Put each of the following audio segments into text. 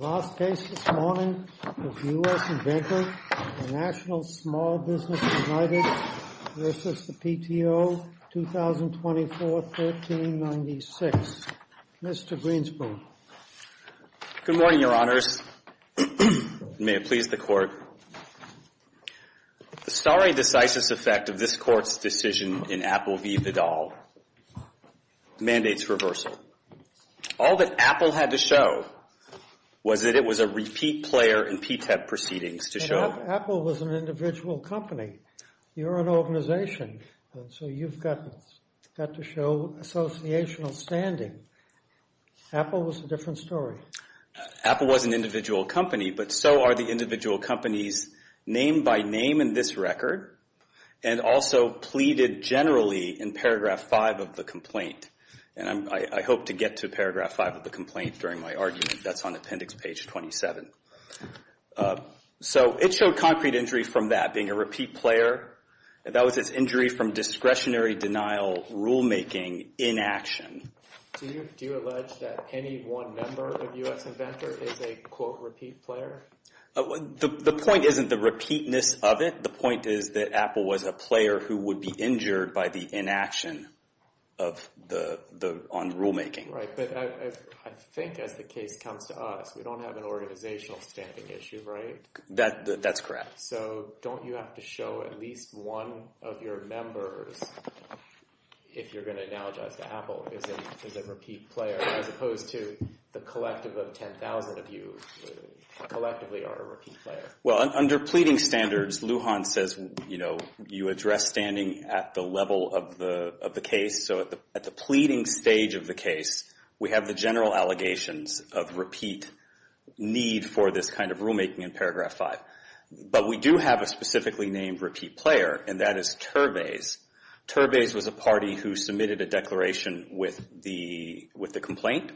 The last case this morning is U.S. Inventor, Inc. v. PTO, 2024-1396. Mr. Greenspoon. Good morning, Your Honors. May it please the Court. The starry, decisive effect of this was that it was a repeat player in P-TEB proceedings to show... But Apple was an individual company. You're an organization, and so you've got to show associational standing. Apple was a different story. Apple was an individual company, but so are the individual companies named by name in this record, and also pleaded generally in paragraph 5 of the complaint. And I hope to get to paragraph 5 of the complaint during my argument. That's on appendix page 27. So it showed concrete injury from that, being a repeat player. That was its injury from discretionary denial rulemaking inaction. Do you allege that any one member of U.S. Inventor is a, quote, repeat player? The point isn't the repeatness of it. The would be injured by the inaction on rulemaking. Right, but I think as the case comes to us, we don't have an organizational standing issue, right? That's correct. So don't you have to show at least one of your members, if you're going to analogize to Apple, is a repeat player, as opposed to the collective of 10,000 of you collectively are a repeat player? Well, under pleading standards, Lujan says, you know, you address standing at the level of the case. So at the pleading stage of the case, we have the general allegations of repeat need for this kind of rulemaking in paragraph 5. But we do have a specifically named repeat player, and that is Turbays. Turbays was a party who submitted a declaration with the complaint,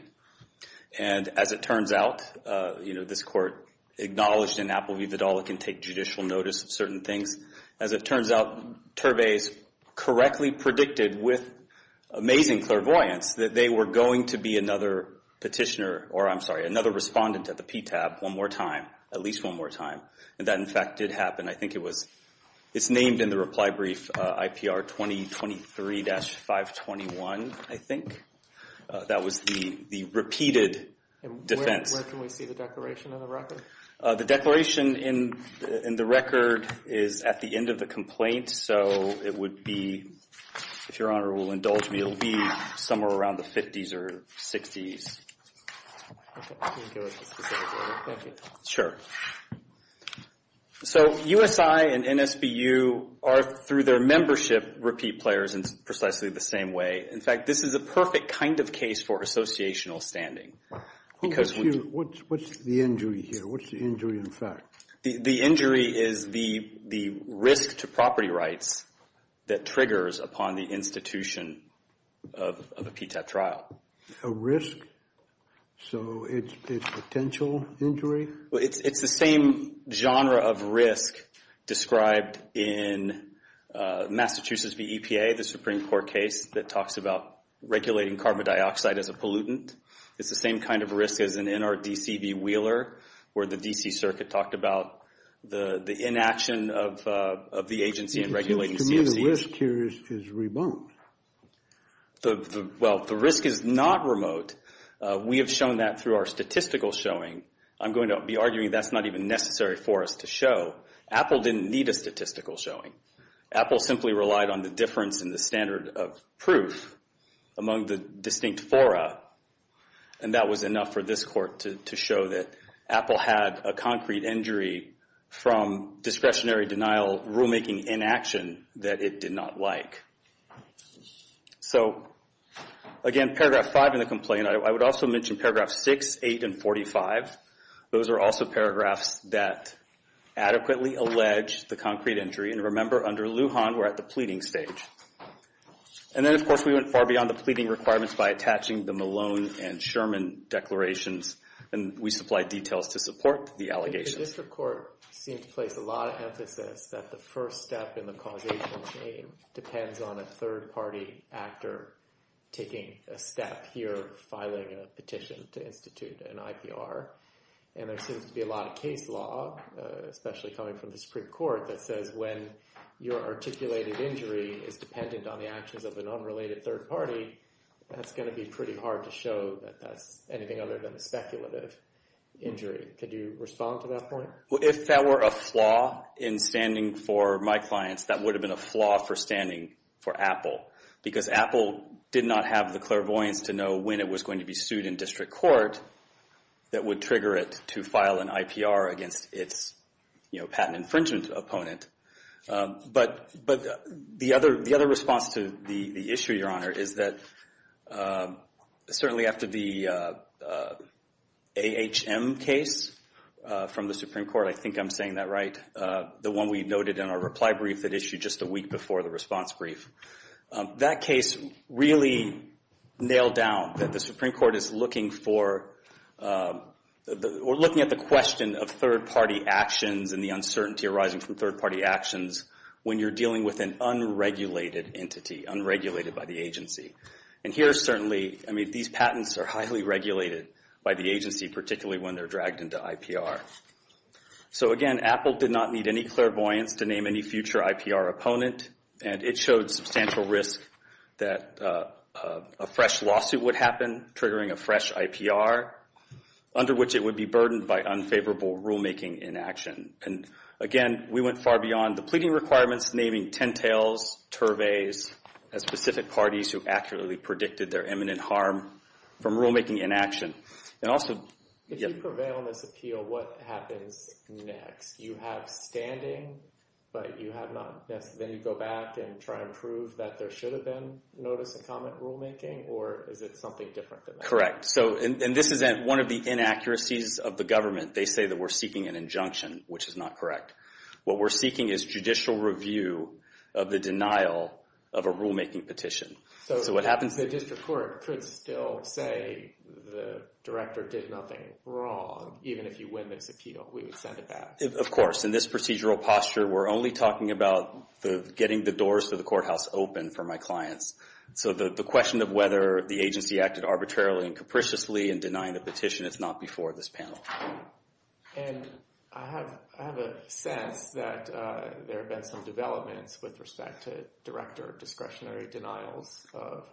and as it turns out, you know, this court acknowledged in Apple v. Vidalic and take judicial notice of certain things. As it turns out, Turbays correctly predicted with amazing clairvoyance that they were going to be another petitioner, or I'm sorry, another respondent at the PTAB one more time, at least one more time. And that, in fact, did happen. It's named in the reply brief IPR 2023-521, I think. That was the repeated defense. And where can we see the declaration in the record? The declaration in the record is at the end of the complaint, so it would be, if Your Honor will indulge me, it would be somewhere around the 50s or 60s. Okay, can you give us the specific date? Thank you. Sure. So USI and NSBU are, through their membership, repeat players in precisely the same way. In fact, this is a perfect kind of case for associational standing. What's the injury here? What's the injury in fact? The injury is the risk to property rights that triggers upon the institution of a PTAB trial. A risk? So it's potential injury? It's the same genre of risk described in Massachusetts v. EPA, the Supreme Court case that talks about regulating carbon dioxide as a pollutant. It's the same kind of risk as in NRDC v. Wheeler, where the D.C. Circuit talked about the inaction of the agency in regulating CFCs. The risk here is remote. Well, the risk is not remote. We have shown that through our statistical showing. I'm going to be arguing that's not even necessary for us to show. Apple didn't need a statistical showing. Apple simply relied on the difference in the standard of proof among the distinct fora, and that was enough for this Court to show that Apple had a concrete injury from discretionary denial rulemaking inaction that it did not like. So, again, paragraph 5 in the complaint, I would also mention paragraphs 6, 8, and 45. Those are also paragraphs that adequately allege the concrete injury. And remember, under Lujan, we're at the pleading stage. And then, of course, we went far beyond the pleading requirements by attaching the Malone and Sherman declarations, and we supplied details to support the allegations. I think the district court seemed to place a lot of emphasis that the first step in the causational chain depends on a third-party actor taking a step here, filing a petition to institute an IPR. And there seems to be a lot of case law, especially coming from the Supreme Court, that says when your articulated injury is dependent on the actions of an unrelated third party, that's going to be pretty hard to show that that's anything other than a speculative injury. Could you respond to that point? Well, if that were a flaw in standing for my clients, that would have been a flaw for standing for Apple, because Apple did not have the clairvoyance to know when it was going to be sued in district court that would trigger it to file an IPR against its patent infringement opponent. But the other response to the issue, Your Honor, is that certainly after the AHM case from the Supreme Court, I think I'm saying that right, the one we noted in our reply brief that issued just a week before the response brief, that case really nailed down that the Supreme Court is looking for or looking at the question of third-party actions and the uncertainty arising from third-party actions when you're dealing with an unregulated entity, unregulated by the agency. And here certainly, I mean, these patents are highly regulated by the agency, particularly when they're dragged into IPR. So again, Apple did not need any clairvoyance to name any future IPR opponent, and it showed substantial risk that a fresh lawsuit would happen, triggering a fresh IPR, under which it would be burdened by unfavorable rulemaking inaction. And again, we went far beyond the pleading requirements, naming Tentails, Turveys, as specific parties who accurately predicted their imminent harm from rulemaking inaction. And also... If you prevail in this appeal, what happens next? You have standing, but you have not... Then you go back and try and prove that there should have been notice-and-comment rulemaking, or is it something different than that? Correct. And this is one of the inaccuracies of the government. They say that we're seeking an injunction, which is not correct. What we're seeking is judicial review of the denial of a rulemaking petition. So what happens... The district court could still say the director did nothing wrong, even if you win this appeal. We would send it back. Of course. In this procedural posture, we're only talking about getting the doors to the courthouse open for my clients. So the question of whether the agency acted arbitrarily and capriciously in denying the petition is not before this panel. And I have a sense that there have been some developments with respect to director discretionary denials of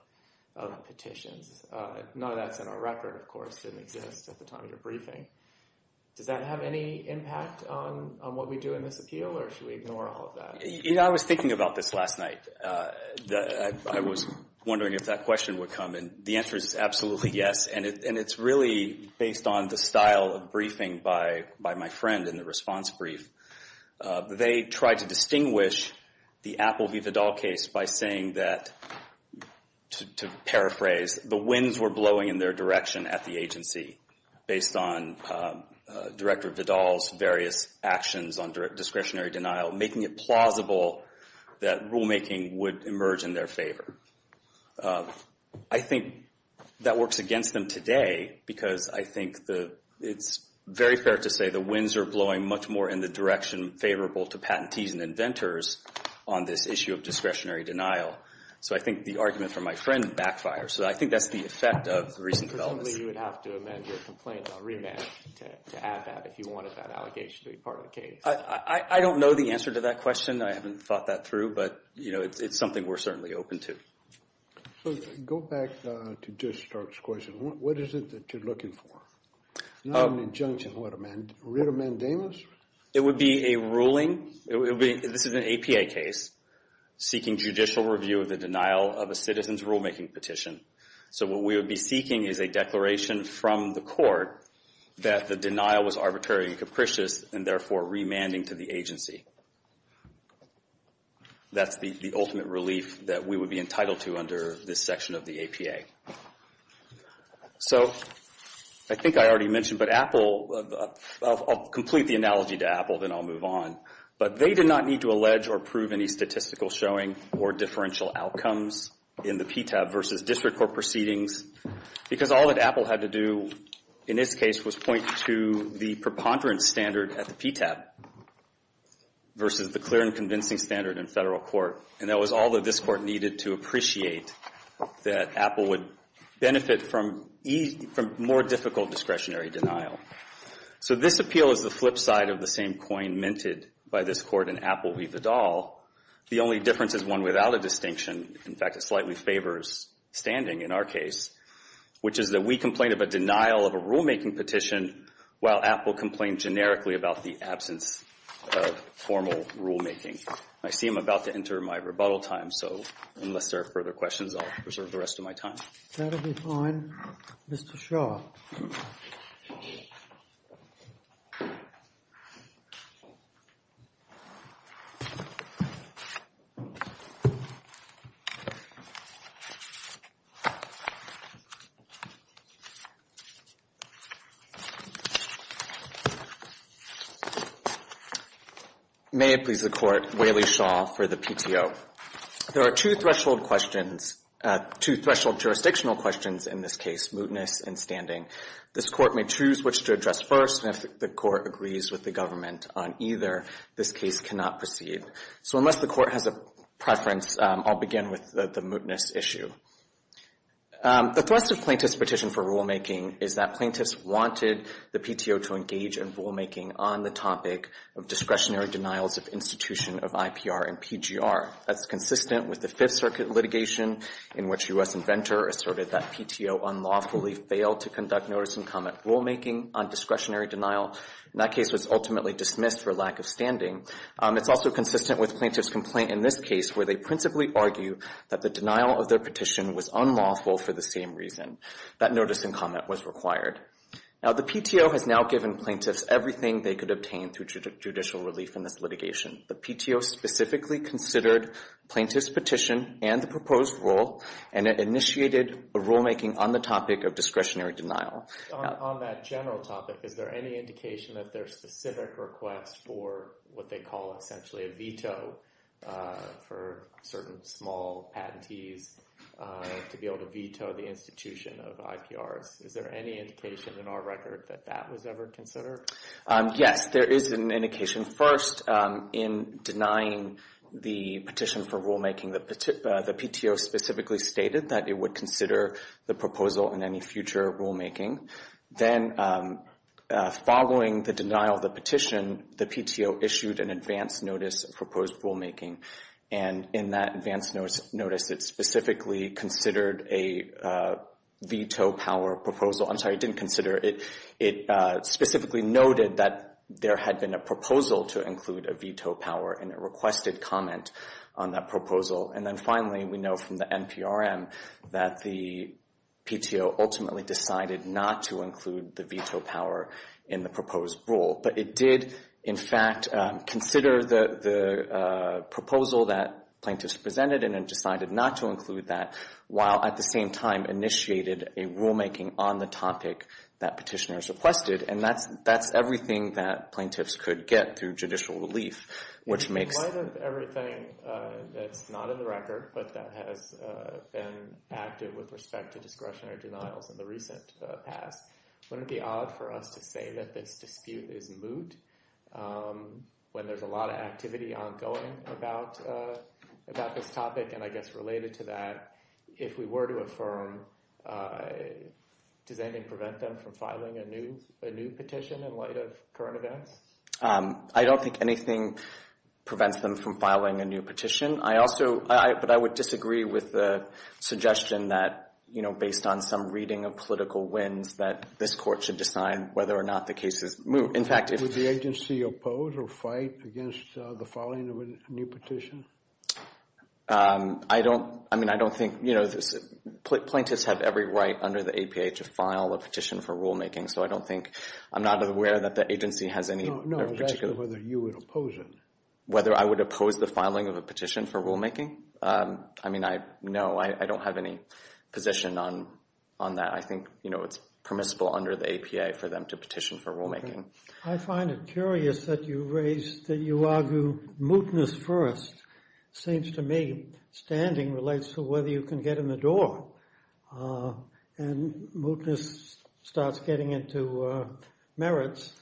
petitions. None of that's in our record, of course. It didn't exist at the time of your briefing. Does that have any impact on what we do in this appeal, or should we ignore all of that? I was thinking about this last night. I was wondering if that question would come, and the answer is absolutely yes. And it's really based on the style of briefing by my friend in the response brief. They tried to distinguish the Apple v. Vidal case by saying that, to paraphrase, the winds were blowing in their direction at the agency, based on Director Vidal's various actions on discretionary denial, making it plausible that rulemaking would emerge in their favor. I think that works against them today because I think it's very fair to say the winds are blowing much more in the direction favorable to patentees and inventors on this issue of discretionary denial. So I think the argument from my friend backfires. So I think that's the effect of recent developments. Presumably you would have to amend your complaint on remand to add that, if you wanted that allegation to be part of the case. I don't know the answer to that question. I haven't thought that through. But, you know, it's something we're certainly open to. Go back to Judge Stark's question. What is it that you're looking for? Not an injunction. What, a writ of mandamus? It would be a ruling. This is an APA case seeking judicial review of the denial of a citizen's rulemaking petition. So what we would be seeking is a declaration from the court that the denial was arbitrary and capricious and therefore remanding to the agency. That's the ultimate relief that we would be entitled to under this section of the APA. So I think I already mentioned, but Apple, I'll complete the analogy to Apple, then I'll move on. But they did not need to allege or prove any statistical showing or differential outcomes in the PTAB versus district court proceedings because all that Apple had to do in this case was point to the preponderance standard at the PTAB versus the clear and convincing standard in federal court. And that was all that this court needed to appreciate, that Apple would benefit from more difficult discretionary denial. So this appeal is the flip side of the same coin minted by this court in Apple v. Vidal. The only difference is one without a distinction. In fact, it slightly favors standing in our case, which is that we complain of a denial of a rulemaking petition while Apple complained generically about the absence of formal rulemaking. I see I'm about to enter my rebuttal time, so unless there are further questions, I'll reserve the rest of my time. That'll be fine. Mr. Shaw. May it please the Court, Whaley Shaw for the PTO. So there are two threshold jurisdictional questions in this case, mootness and standing. This court may choose which to address first, and if the court agrees with the government on either, this case cannot proceed. So unless the court has a preference, I'll begin with the mootness issue. The thrust of plaintiff's petition for rulemaking is that plaintiffs wanted the PTO to engage in rulemaking on the topic of discretionary denials of institution of IPR and PGR. That's consistent with the Fifth Circuit litigation, in which U.S. inventor asserted that PTO unlawfully failed to conduct notice and comment rulemaking on discretionary denial. That case was ultimately dismissed for lack of standing. It's also consistent with plaintiff's complaint in this case, where they principally argue that the denial of their petition was unlawful for the same reason, that notice and comment was required. Now, the PTO has now given plaintiffs everything they could obtain through judicial relief in this litigation. The PTO specifically considered plaintiff's petition and the proposed rule, and it initiated a rulemaking on the topic of discretionary denial. On that general topic, is there any indication that there are specific requests for what they call essentially a veto for certain small patentees to be able to veto the institution of IPRs? Is there any indication in our record that that was ever considered? Yes, there is an indication. First, in denying the petition for rulemaking, the PTO specifically stated that it would consider the proposal in any future rulemaking. Then, following the denial of the petition, the PTO issued an advance notice of proposed rulemaking, and in that advance notice, it specifically considered a veto power proposal. I'm sorry, it didn't consider it. It specifically noted that there had been a proposal to include a veto power, and it requested comment on that proposal. And then finally, we know from the NPRM that the PTO ultimately decided not to include the veto power in the proposed rule. But it did, in fact, consider the proposal that plaintiffs presented and then decided not to include that while, at the same time, initiated a rulemaking on the topic that petitioners requested. And that's everything that plaintiffs could get through judicial relief, which makes— In light of everything that's not in the record, but that has been acted with respect to discretionary denials in the recent past, wouldn't it be odd for us to say that this dispute is moot when there's a lot of activity ongoing about this topic? And I guess related to that, if we were to affirm, does anything prevent them from filing a new petition in light of current events? I don't think anything prevents them from filing a new petition. I also—but I would disagree with the suggestion that, you know, based on some reading of political winds, that this court should decide whether or not the case is moot. In fact, if— Would the agency oppose or fight against the filing of a new petition? I don't—I mean, I don't think—you know, plaintiffs have every right under the APA to file a petition for rulemaking, so I don't think—I'm not aware that the agency has any particular— No, no, I was asking whether you would oppose it. Whether I would oppose the filing of a petition for rulemaking? I mean, I—no, I don't have any position on that. I think, you know, it's permissible under the APA for them to petition for rulemaking. I find it curious that you raise—that you argue mootness first. Seems to me standing relates to whether you can get in the door, and mootness starts getting into merits.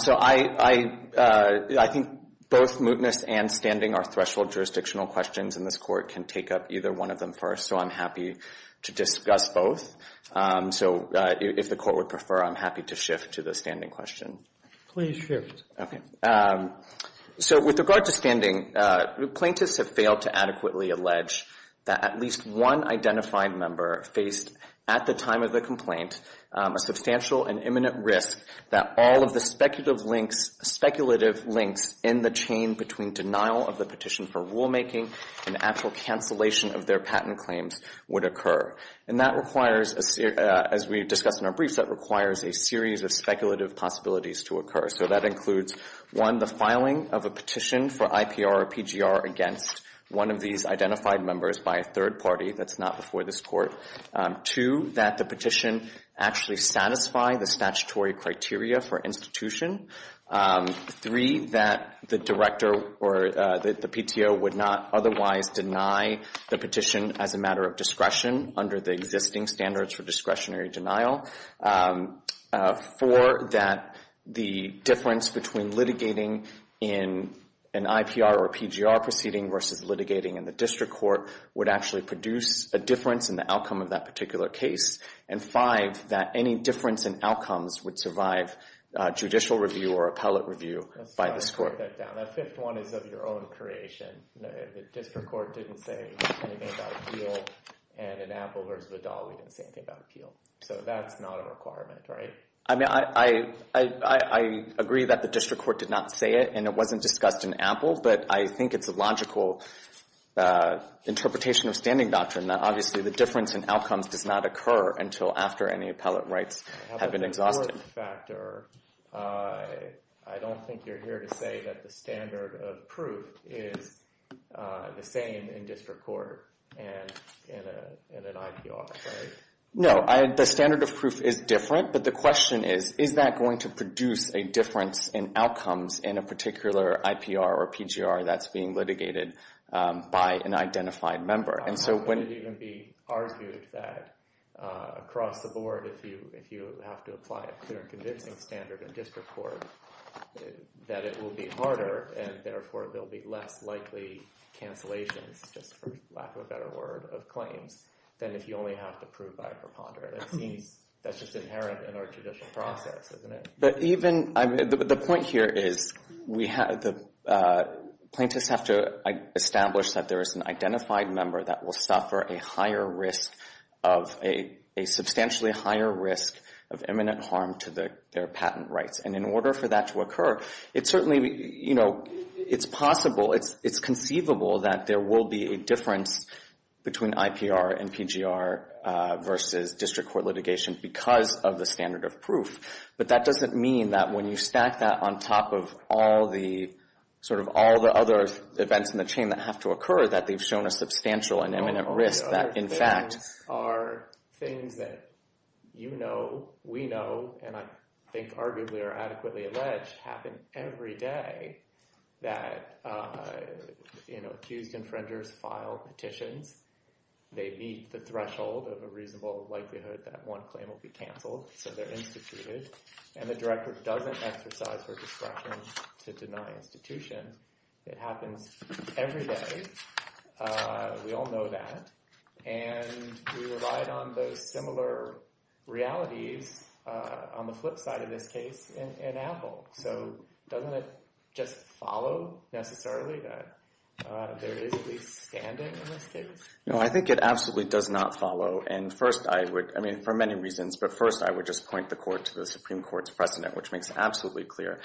So I—I think both mootness and standing are threshold jurisdictional questions, and this court can take up either one of them first, so I'm happy to discuss both. So if the court would prefer, I'm happy to shift to the standing question. Please shift. Okay. So with regard to standing, plaintiffs have failed to adequately allege that at least one identified member faced at the time of the complaint a substantial and imminent risk that all of the speculative links in the chain between denial of the petition for rulemaking and actual cancellation of their patent claims would occur. And that requires, as we discussed in our briefs, that requires a series of speculative possibilities to occur. So that includes, one, the filing of a petition for IPR or PGR against one of these identified members by a third party that's not before this court. Two, that the petition actually satisfy the statutory criteria for institution. Three, that the director or the PTO would not otherwise deny the petition as a matter of discretion under the existing standards for discretionary denial. Four, that the difference between litigating in an IPR or PGR proceeding versus litigating in the district court would actually produce a difference in the outcome of that particular case. And five, that any difference in outcomes would survive judicial review or appellate review by this court. Let's try to break that down. That fifth one is of your own creation. The district court didn't say anything about appeal. And in Apple v. Vidal, we didn't say anything about appeal. So that's not a requirement, right? I mean, I agree that the district court did not say it, and it wasn't discussed in Apple. But I think it's a logical interpretation of standing doctrine, that obviously the difference in outcomes does not occur until after any appellate rights have been exhausted. I don't think you're here to say that the standard of proof is the same in district court and in an IPR, right? No, the standard of proof is different. But the question is, is that going to produce a difference in outcomes in a particular IPR or PGR that's being litigated by an identified member? And so when— I don't think it would even be argued that across the board, if you have to apply a clear and convincing standard in district court, that it will be harder and therefore there will be less likely cancellations, just for lack of a better word, of claims, than if you only have to prove by a preponderant. It seems that's just inherent in our judicial process, isn't it? But even—the point here is the plaintiffs have to establish that there is an identified member that will suffer a substantially higher risk of imminent harm to their patent rights. And in order for that to occur, it's possible, it's conceivable that there will be a difference between IPR and PGR versus district court litigation because of the standard of proof. But that doesn't mean that when you stack that on top of all the— sort of all the other events in the chain that have to occur, that they've shown a substantial and imminent risk that, in fact— All the other things are things that you know, we know, and I think arguably are adequately alleged, happen every day. That, you know, accused infringers file petitions. They meet the threshold of a reasonable likelihood that one claim will be canceled. So they're instituted. And the director doesn't exercise her discretion to deny institutions. It happens every day. We all know that. And we relied on those similar realities on the flip side of this case in Apple. So doesn't it just follow necessarily that there is at least standing in this case? No, I think it absolutely does not follow. And first I would—I mean, for many reasons, but first I would just point the court to the Supreme Court's precedent, which makes it absolutely clear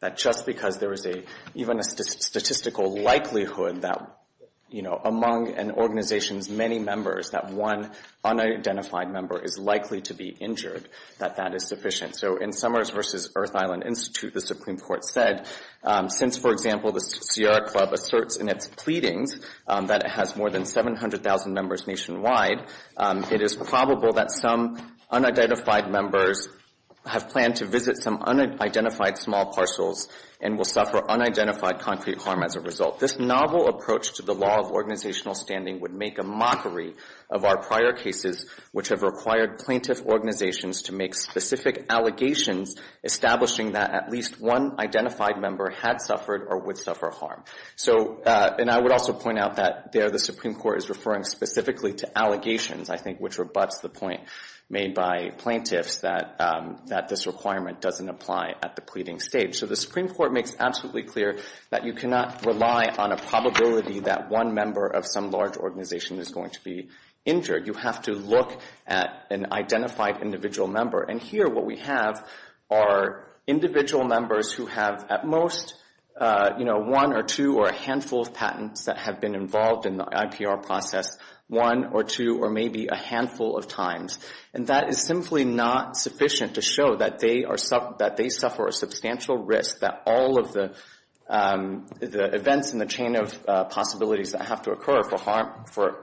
that just because there is even a statistical likelihood that, you know, among an organization's many members, that one unidentified member is likely to be injured, that that is sufficient. So in Summers v. Earth Island Institute, the Supreme Court said, since, for example, the Sierra Club asserts in its pleadings that it has more than 700,000 members nationwide, it is probable that some unidentified members have planned to visit some unidentified small parcels and will suffer unidentified concrete harm as a result. This novel approach to the law of organizational standing would make a mockery of our prior cases, which have required plaintiff organizations to make specific allegations, establishing that at least one identified member had suffered or would suffer harm. So—and I would also point out that there the Supreme Court is referring specifically to allegations, I think, which rebutts the point made by plaintiffs that this requirement doesn't apply at the pleading stage. So the Supreme Court makes absolutely clear that you cannot rely on a probability that one member of some large organization is going to be injured. You have to look at an identified individual member. And here what we have are individual members who have at most, you know, one or two or a handful of patents that have been involved in the IPR process, one or two or maybe a handful of times. And that is simply not sufficient to show that they are—that they suffer a substantial risk, that all of the events in the chain of possibilities that have to occur for harm— for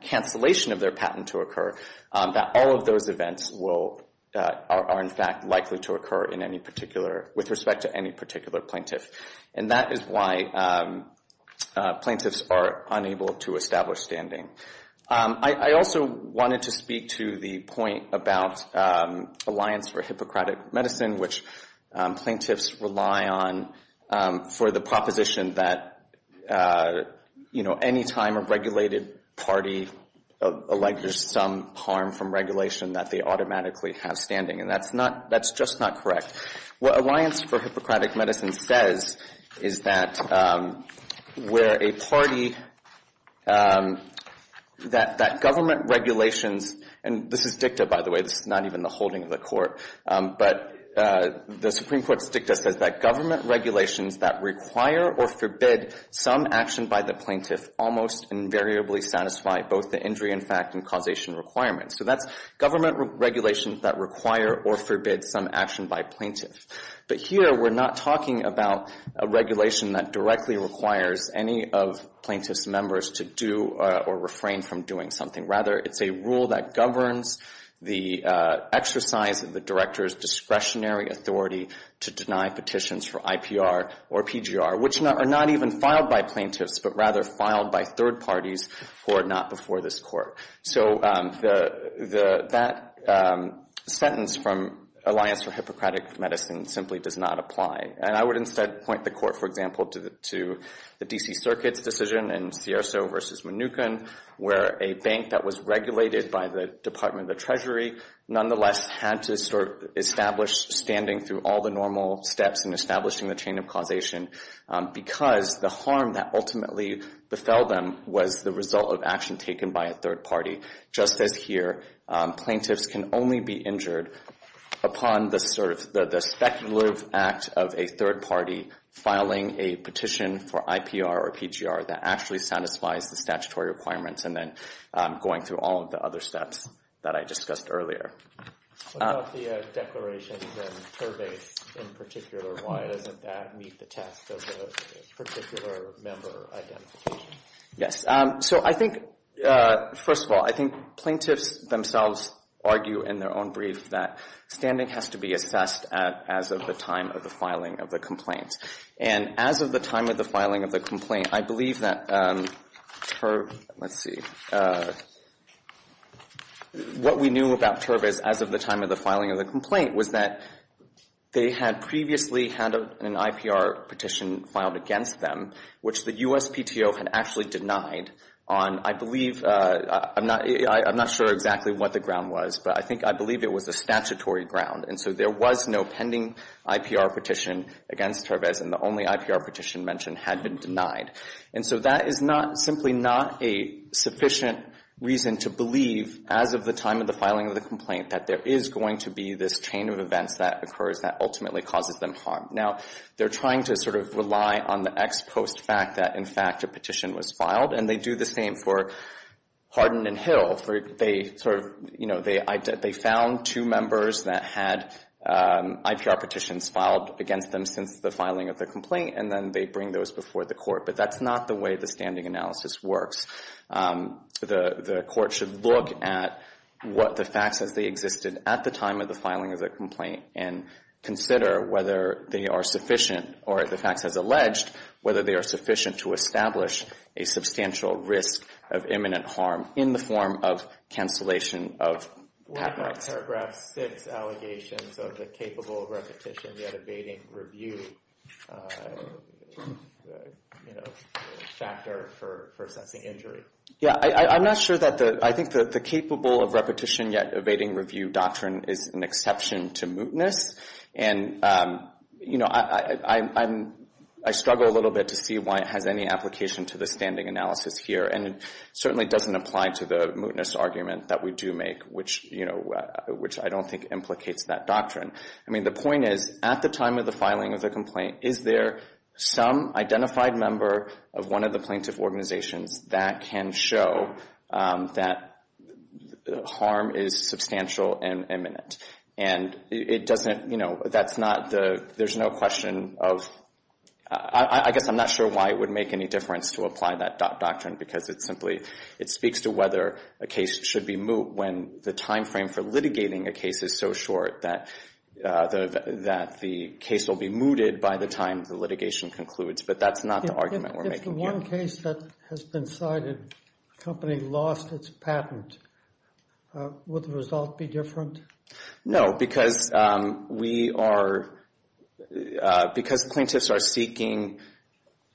cancellation of their patent to occur, that all of those events will—are, in fact, likely to occur in any particular—with respect to any particular plaintiff. And that is why plaintiffs are unable to establish standing. I also wanted to speak to the point about Alliance for Hippocratic Medicine, which plaintiffs rely on for the proposition that, you know, any time a regulated party alleges some harm from regulation that they automatically have standing. And that's not—that's just not correct. What Alliance for Hippocratic Medicine says is that where a party that government regulations— and this is dicta, by the way. It's not even the holding of the court. But the Supreme Court's dicta says that government regulations that require or forbid some action by the plaintiff almost invariably satisfy both the injury in fact and causation requirements. So that's government regulations that require or forbid some action by plaintiff. But here we're not talking about a regulation that directly requires any of plaintiff's members to do or refrain from doing something. Rather, it's a rule that governs the exercise of the director's discretionary authority to deny petitions for IPR or PGR, which are not even filed by plaintiffs, but rather filed by third parties who are not before this court. So that sentence from Alliance for Hippocratic Medicine simply does not apply. And I would instead point the court, for example, to the D.C. Circuit's decision in Scierso v. Mnuchin where a bank that was regulated by the Department of the Treasury nonetheless had to establish standing through all the normal steps in establishing the chain of causation because the harm that ultimately befell them was the result of action taken by a third party. Just as here, plaintiffs can only be injured upon the speculative act of a third party filing a petition for IPR or PGR that actually satisfies the statutory requirements and then going through all of the other steps that I discussed earlier. What about the declarations and surveys in particular? Why doesn't that meet the task of the particular member identification? Yes. So I think, first of all, I think plaintiffs themselves argue in their own brief that standing has to be assessed as of the time of the filing of the complaint. And as of the time of the filing of the complaint, I believe that TURB, let's see, what we knew about TURB as of the time of the filing of the complaint was that they had previously had an IPR petition filed against them, which the USPTO had actually denied on, I believe, I'm not sure exactly what the ground was, but I think I believe it was a statutory ground. And so there was no pending IPR petition against TURB as in the only IPR petition mentioned had been denied. And so that is not, simply not a sufficient reason to believe as of the time of the filing of the complaint that there is going to be this chain of events that occurs that ultimately causes them harm. Now, they're trying to sort of rely on the ex post fact that, in fact, a petition was filed. And they do the same for Hardin and Hill. They sort of, you know, they found two members that had IPR petitions filed against them since the filing of the complaint, and then they bring those before the court. But that's not the way the standing analysis works. The court should look at what the facts as they existed at the time of the filing of the complaint and consider whether they are sufficient, or the facts as alleged, whether they are sufficient to establish a substantial risk of imminent harm in the form of cancellation of patents. What about paragraph 6 allegations of the capable of repetition yet evading review, you know, factor for assessing injury? Yeah, I'm not sure that the, I think that the capable of repetition yet evading review doctrine is an exception to mootness. And, you know, I struggle a little bit to see why it has any application to the standing analysis here. And it certainly doesn't apply to the mootness argument that we do make, which, you know, which I don't think implicates that doctrine. I mean, the point is, at the time of the filing of the complaint, is there some identified member of one of the plaintiff organizations that can show that harm is substantial and imminent? And it doesn't, you know, that's not the, there's no question of, I guess I'm not sure why it would make any difference to apply that doctrine because it's simply, it speaks to whether a case should be moot when the timeframe for litigating a case is so short that, that the case will be mooted by the time the litigation concludes. But that's not the argument we're making here. In one case that has been cited, the company lost its patent. Would the result be different? No, because we are, because plaintiffs are seeking,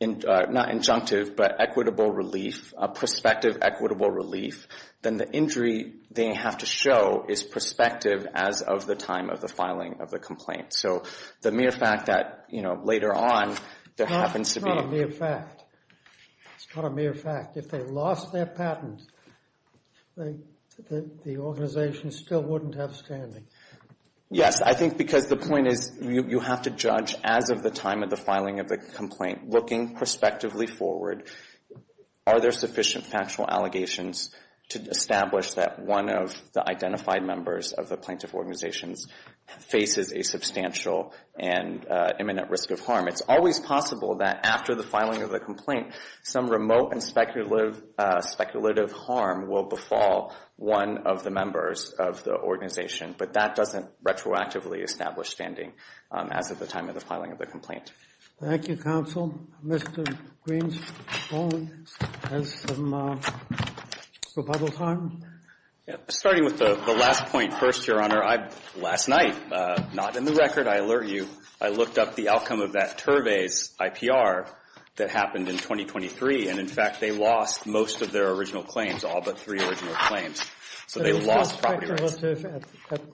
not injunctive, but equitable relief, a prospective equitable relief, then the injury they have to show is prospective as of the time of the filing of the complaint. So the mere fact that, you know, later on, there happens to be. It's not a mere fact. It's not a mere fact. If they lost their patent, the organization still wouldn't have standing. Yes, I think because the point is you have to judge as of the time of the filing of the complaint, looking prospectively forward, are there sufficient factual allegations to establish that one of the identified members of the plaintiff organizations faces a substantial and imminent risk of harm? It's always possible that after the filing of the complaint, some remote and speculative harm will befall one of the members of the organization. But that doesn't retroactively establish standing as of the time of the filing of the complaint. Thank you, counsel. Mr. Green's phone has some rebuttal time. Starting with the last point first, Your Honor. Your Honor, last night, not in the record, I alert you, I looked up the outcome of that Turvey's IPR that happened in 2023. And, in fact, they lost most of their original claims, all but three original claims. So they lost property rights.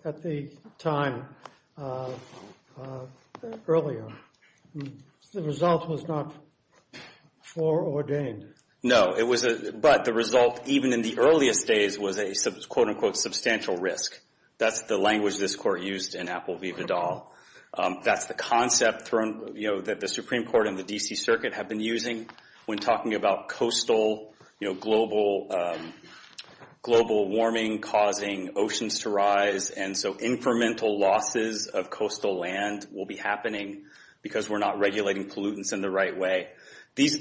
At the time earlier, the result was not foreordained. No. But the result, even in the earliest days, was a, quote, unquote, substantial risk. That's the language this Court used in Apple v. Vidal. That's the concept thrown, you know, that the Supreme Court and the D.C. Circuit have been using when talking about coastal, you know, global warming causing oceans to rise. And so incremental losses of coastal land will be happening because we're not regulating pollutants in the right way. These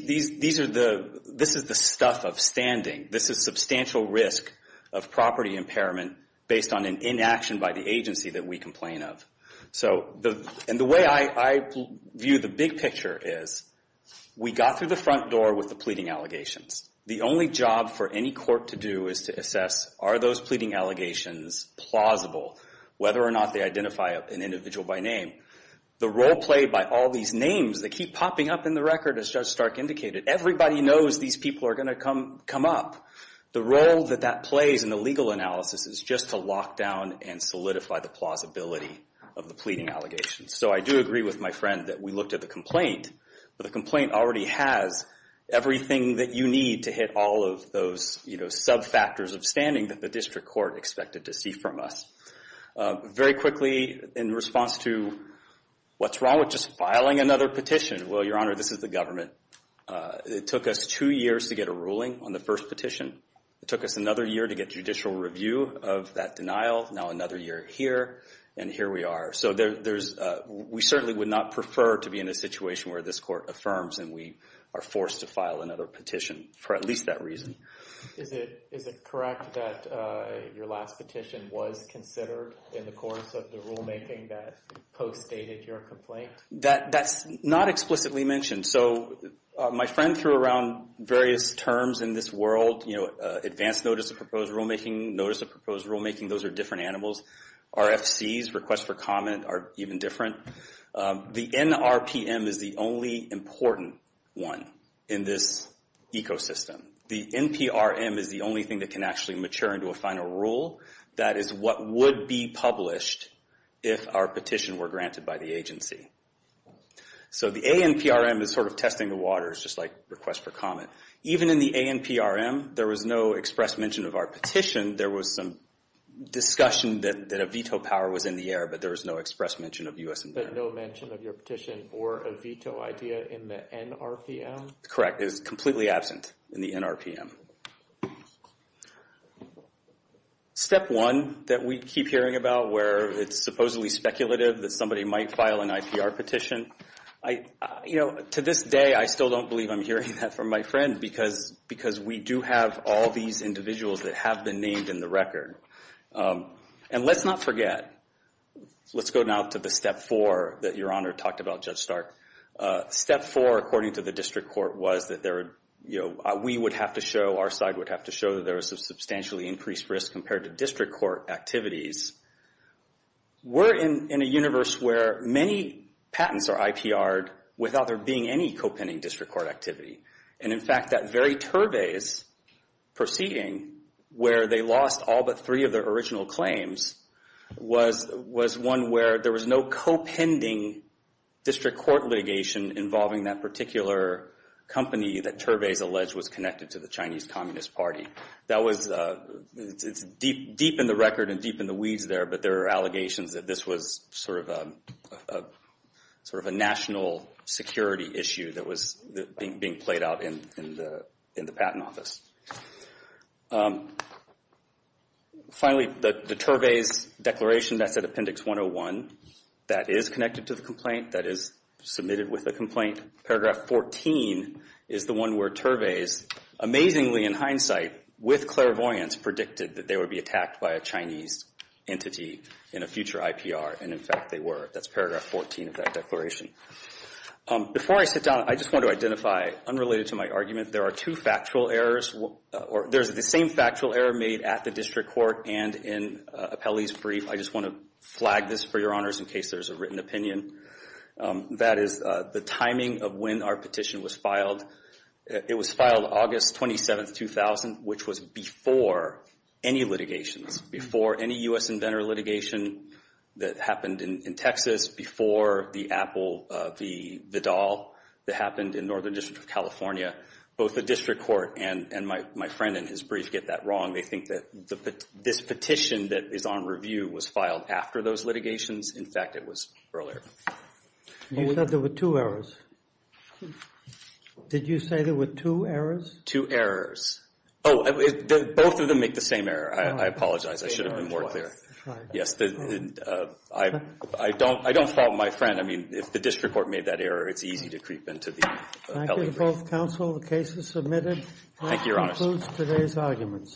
are the, this is the stuff of standing. This is substantial risk of property impairment based on an inaction by the agency that we complain of. So, and the way I view the big picture is we got through the front door with the pleading allegations. The only job for any court to do is to assess are those pleading allegations plausible, whether or not they identify an individual by name. The role played by all these names that keep popping up in the record, as Judge Stark indicated, everybody knows these people are going to come up. The role that that plays in the legal analysis is just to lock down and solidify the plausibility of the pleading allegations. So I do agree with my friend that we looked at the complaint, but the complaint already has everything that you need to hit all of those, you know, sub-factors of standing that the district court expected to see from us. Very quickly, in response to what's wrong with just filing another petition. Well, Your Honor, this is the government. It took us two years to get a ruling on the first petition. It took us another year to get judicial review of that denial. Now another year here, and here we are. So there's, we certainly would not prefer to be in a situation where this court affirms and we are forced to file another petition for at least that reason. Is it correct that your last petition was considered in the course of the rulemaking that post-stated your complaint? That's not explicitly mentioned. So my friend threw around various terms in this world, you know, advance notice of proposed rulemaking, notice of proposed rulemaking, those are different animals. RFCs, request for comment, are even different. The NRPM is the only important one in this ecosystem. The NPRM is the only thing that can actually mature into a final rule. That is what would be published if our petition were granted by the agency. So the ANPRM is sort of testing the waters, just like request for comment. Even in the ANPRM, there was no express mention of our petition. There was some discussion that a veto power was in the air, but there was no express mention of U.S. environment. But no mention of your petition or a veto idea in the NRPM? Correct, it is completely absent in the NRPM. Step one that we keep hearing about where it's supposedly speculative that somebody might file an IPR petition, you know, to this day I still don't believe I'm hearing that from my friend because we do have all these individuals that have been named in the record. And let's not forget, let's go now to the step four that Your Honor talked about, Judge Stark. Step four, according to the district court, was that there were, you know, we would have to show, our side would have to show that there was a substantially increased risk compared to district court activities. We're in a universe where many patents are IPR'd without there being any co-pending district court activity. And in fact, that very Turvey's proceeding where they lost all but three of their original claims was one where there was no co-pending district court litigation involving that particular company that Turvey's alleged was connected to the Chinese Communist Party. That was, it's deep in the record and deep in the weeds there, but there are allegations that this was sort of a national security issue that was being played out in the patent office. Finally, the Turvey's declaration, that's at Appendix 101, that is connected to the complaint, that is submitted with a complaint. Paragraph 14 is the one where Turvey's, amazingly in hindsight, with clairvoyance, predicted that they would be attacked by a Chinese entity in a future IPR. And in fact, they were. That's paragraph 14 of that declaration. Before I sit down, I just want to identify, unrelated to my argument, there are two factual errors, or there's the same factual error made at the district court and in Appellee's brief. I just want to flag this for your honors in case there's a written opinion. That is the timing of when our petition was filed. It was filed August 27, 2000, which was before any litigations, before any U.S. inventor litigation that happened in Texas, before the Apple, the doll that happened in Northern District of California. Both the district court and my friend in his brief get that wrong. They think that this petition that is on review was filed after those litigations. In fact, it was earlier. You said there were two errors. Did you say there were two errors? Two errors. Oh, both of them make the same error. I apologize. I should have been more clear. Yes. I don't fault my friend. I mean, if the district court made that error, it's easy to creep into the Appellee brief. Thank you to both counsel. The case is submitted. Thank you, Your Honors. That concludes today's arguments.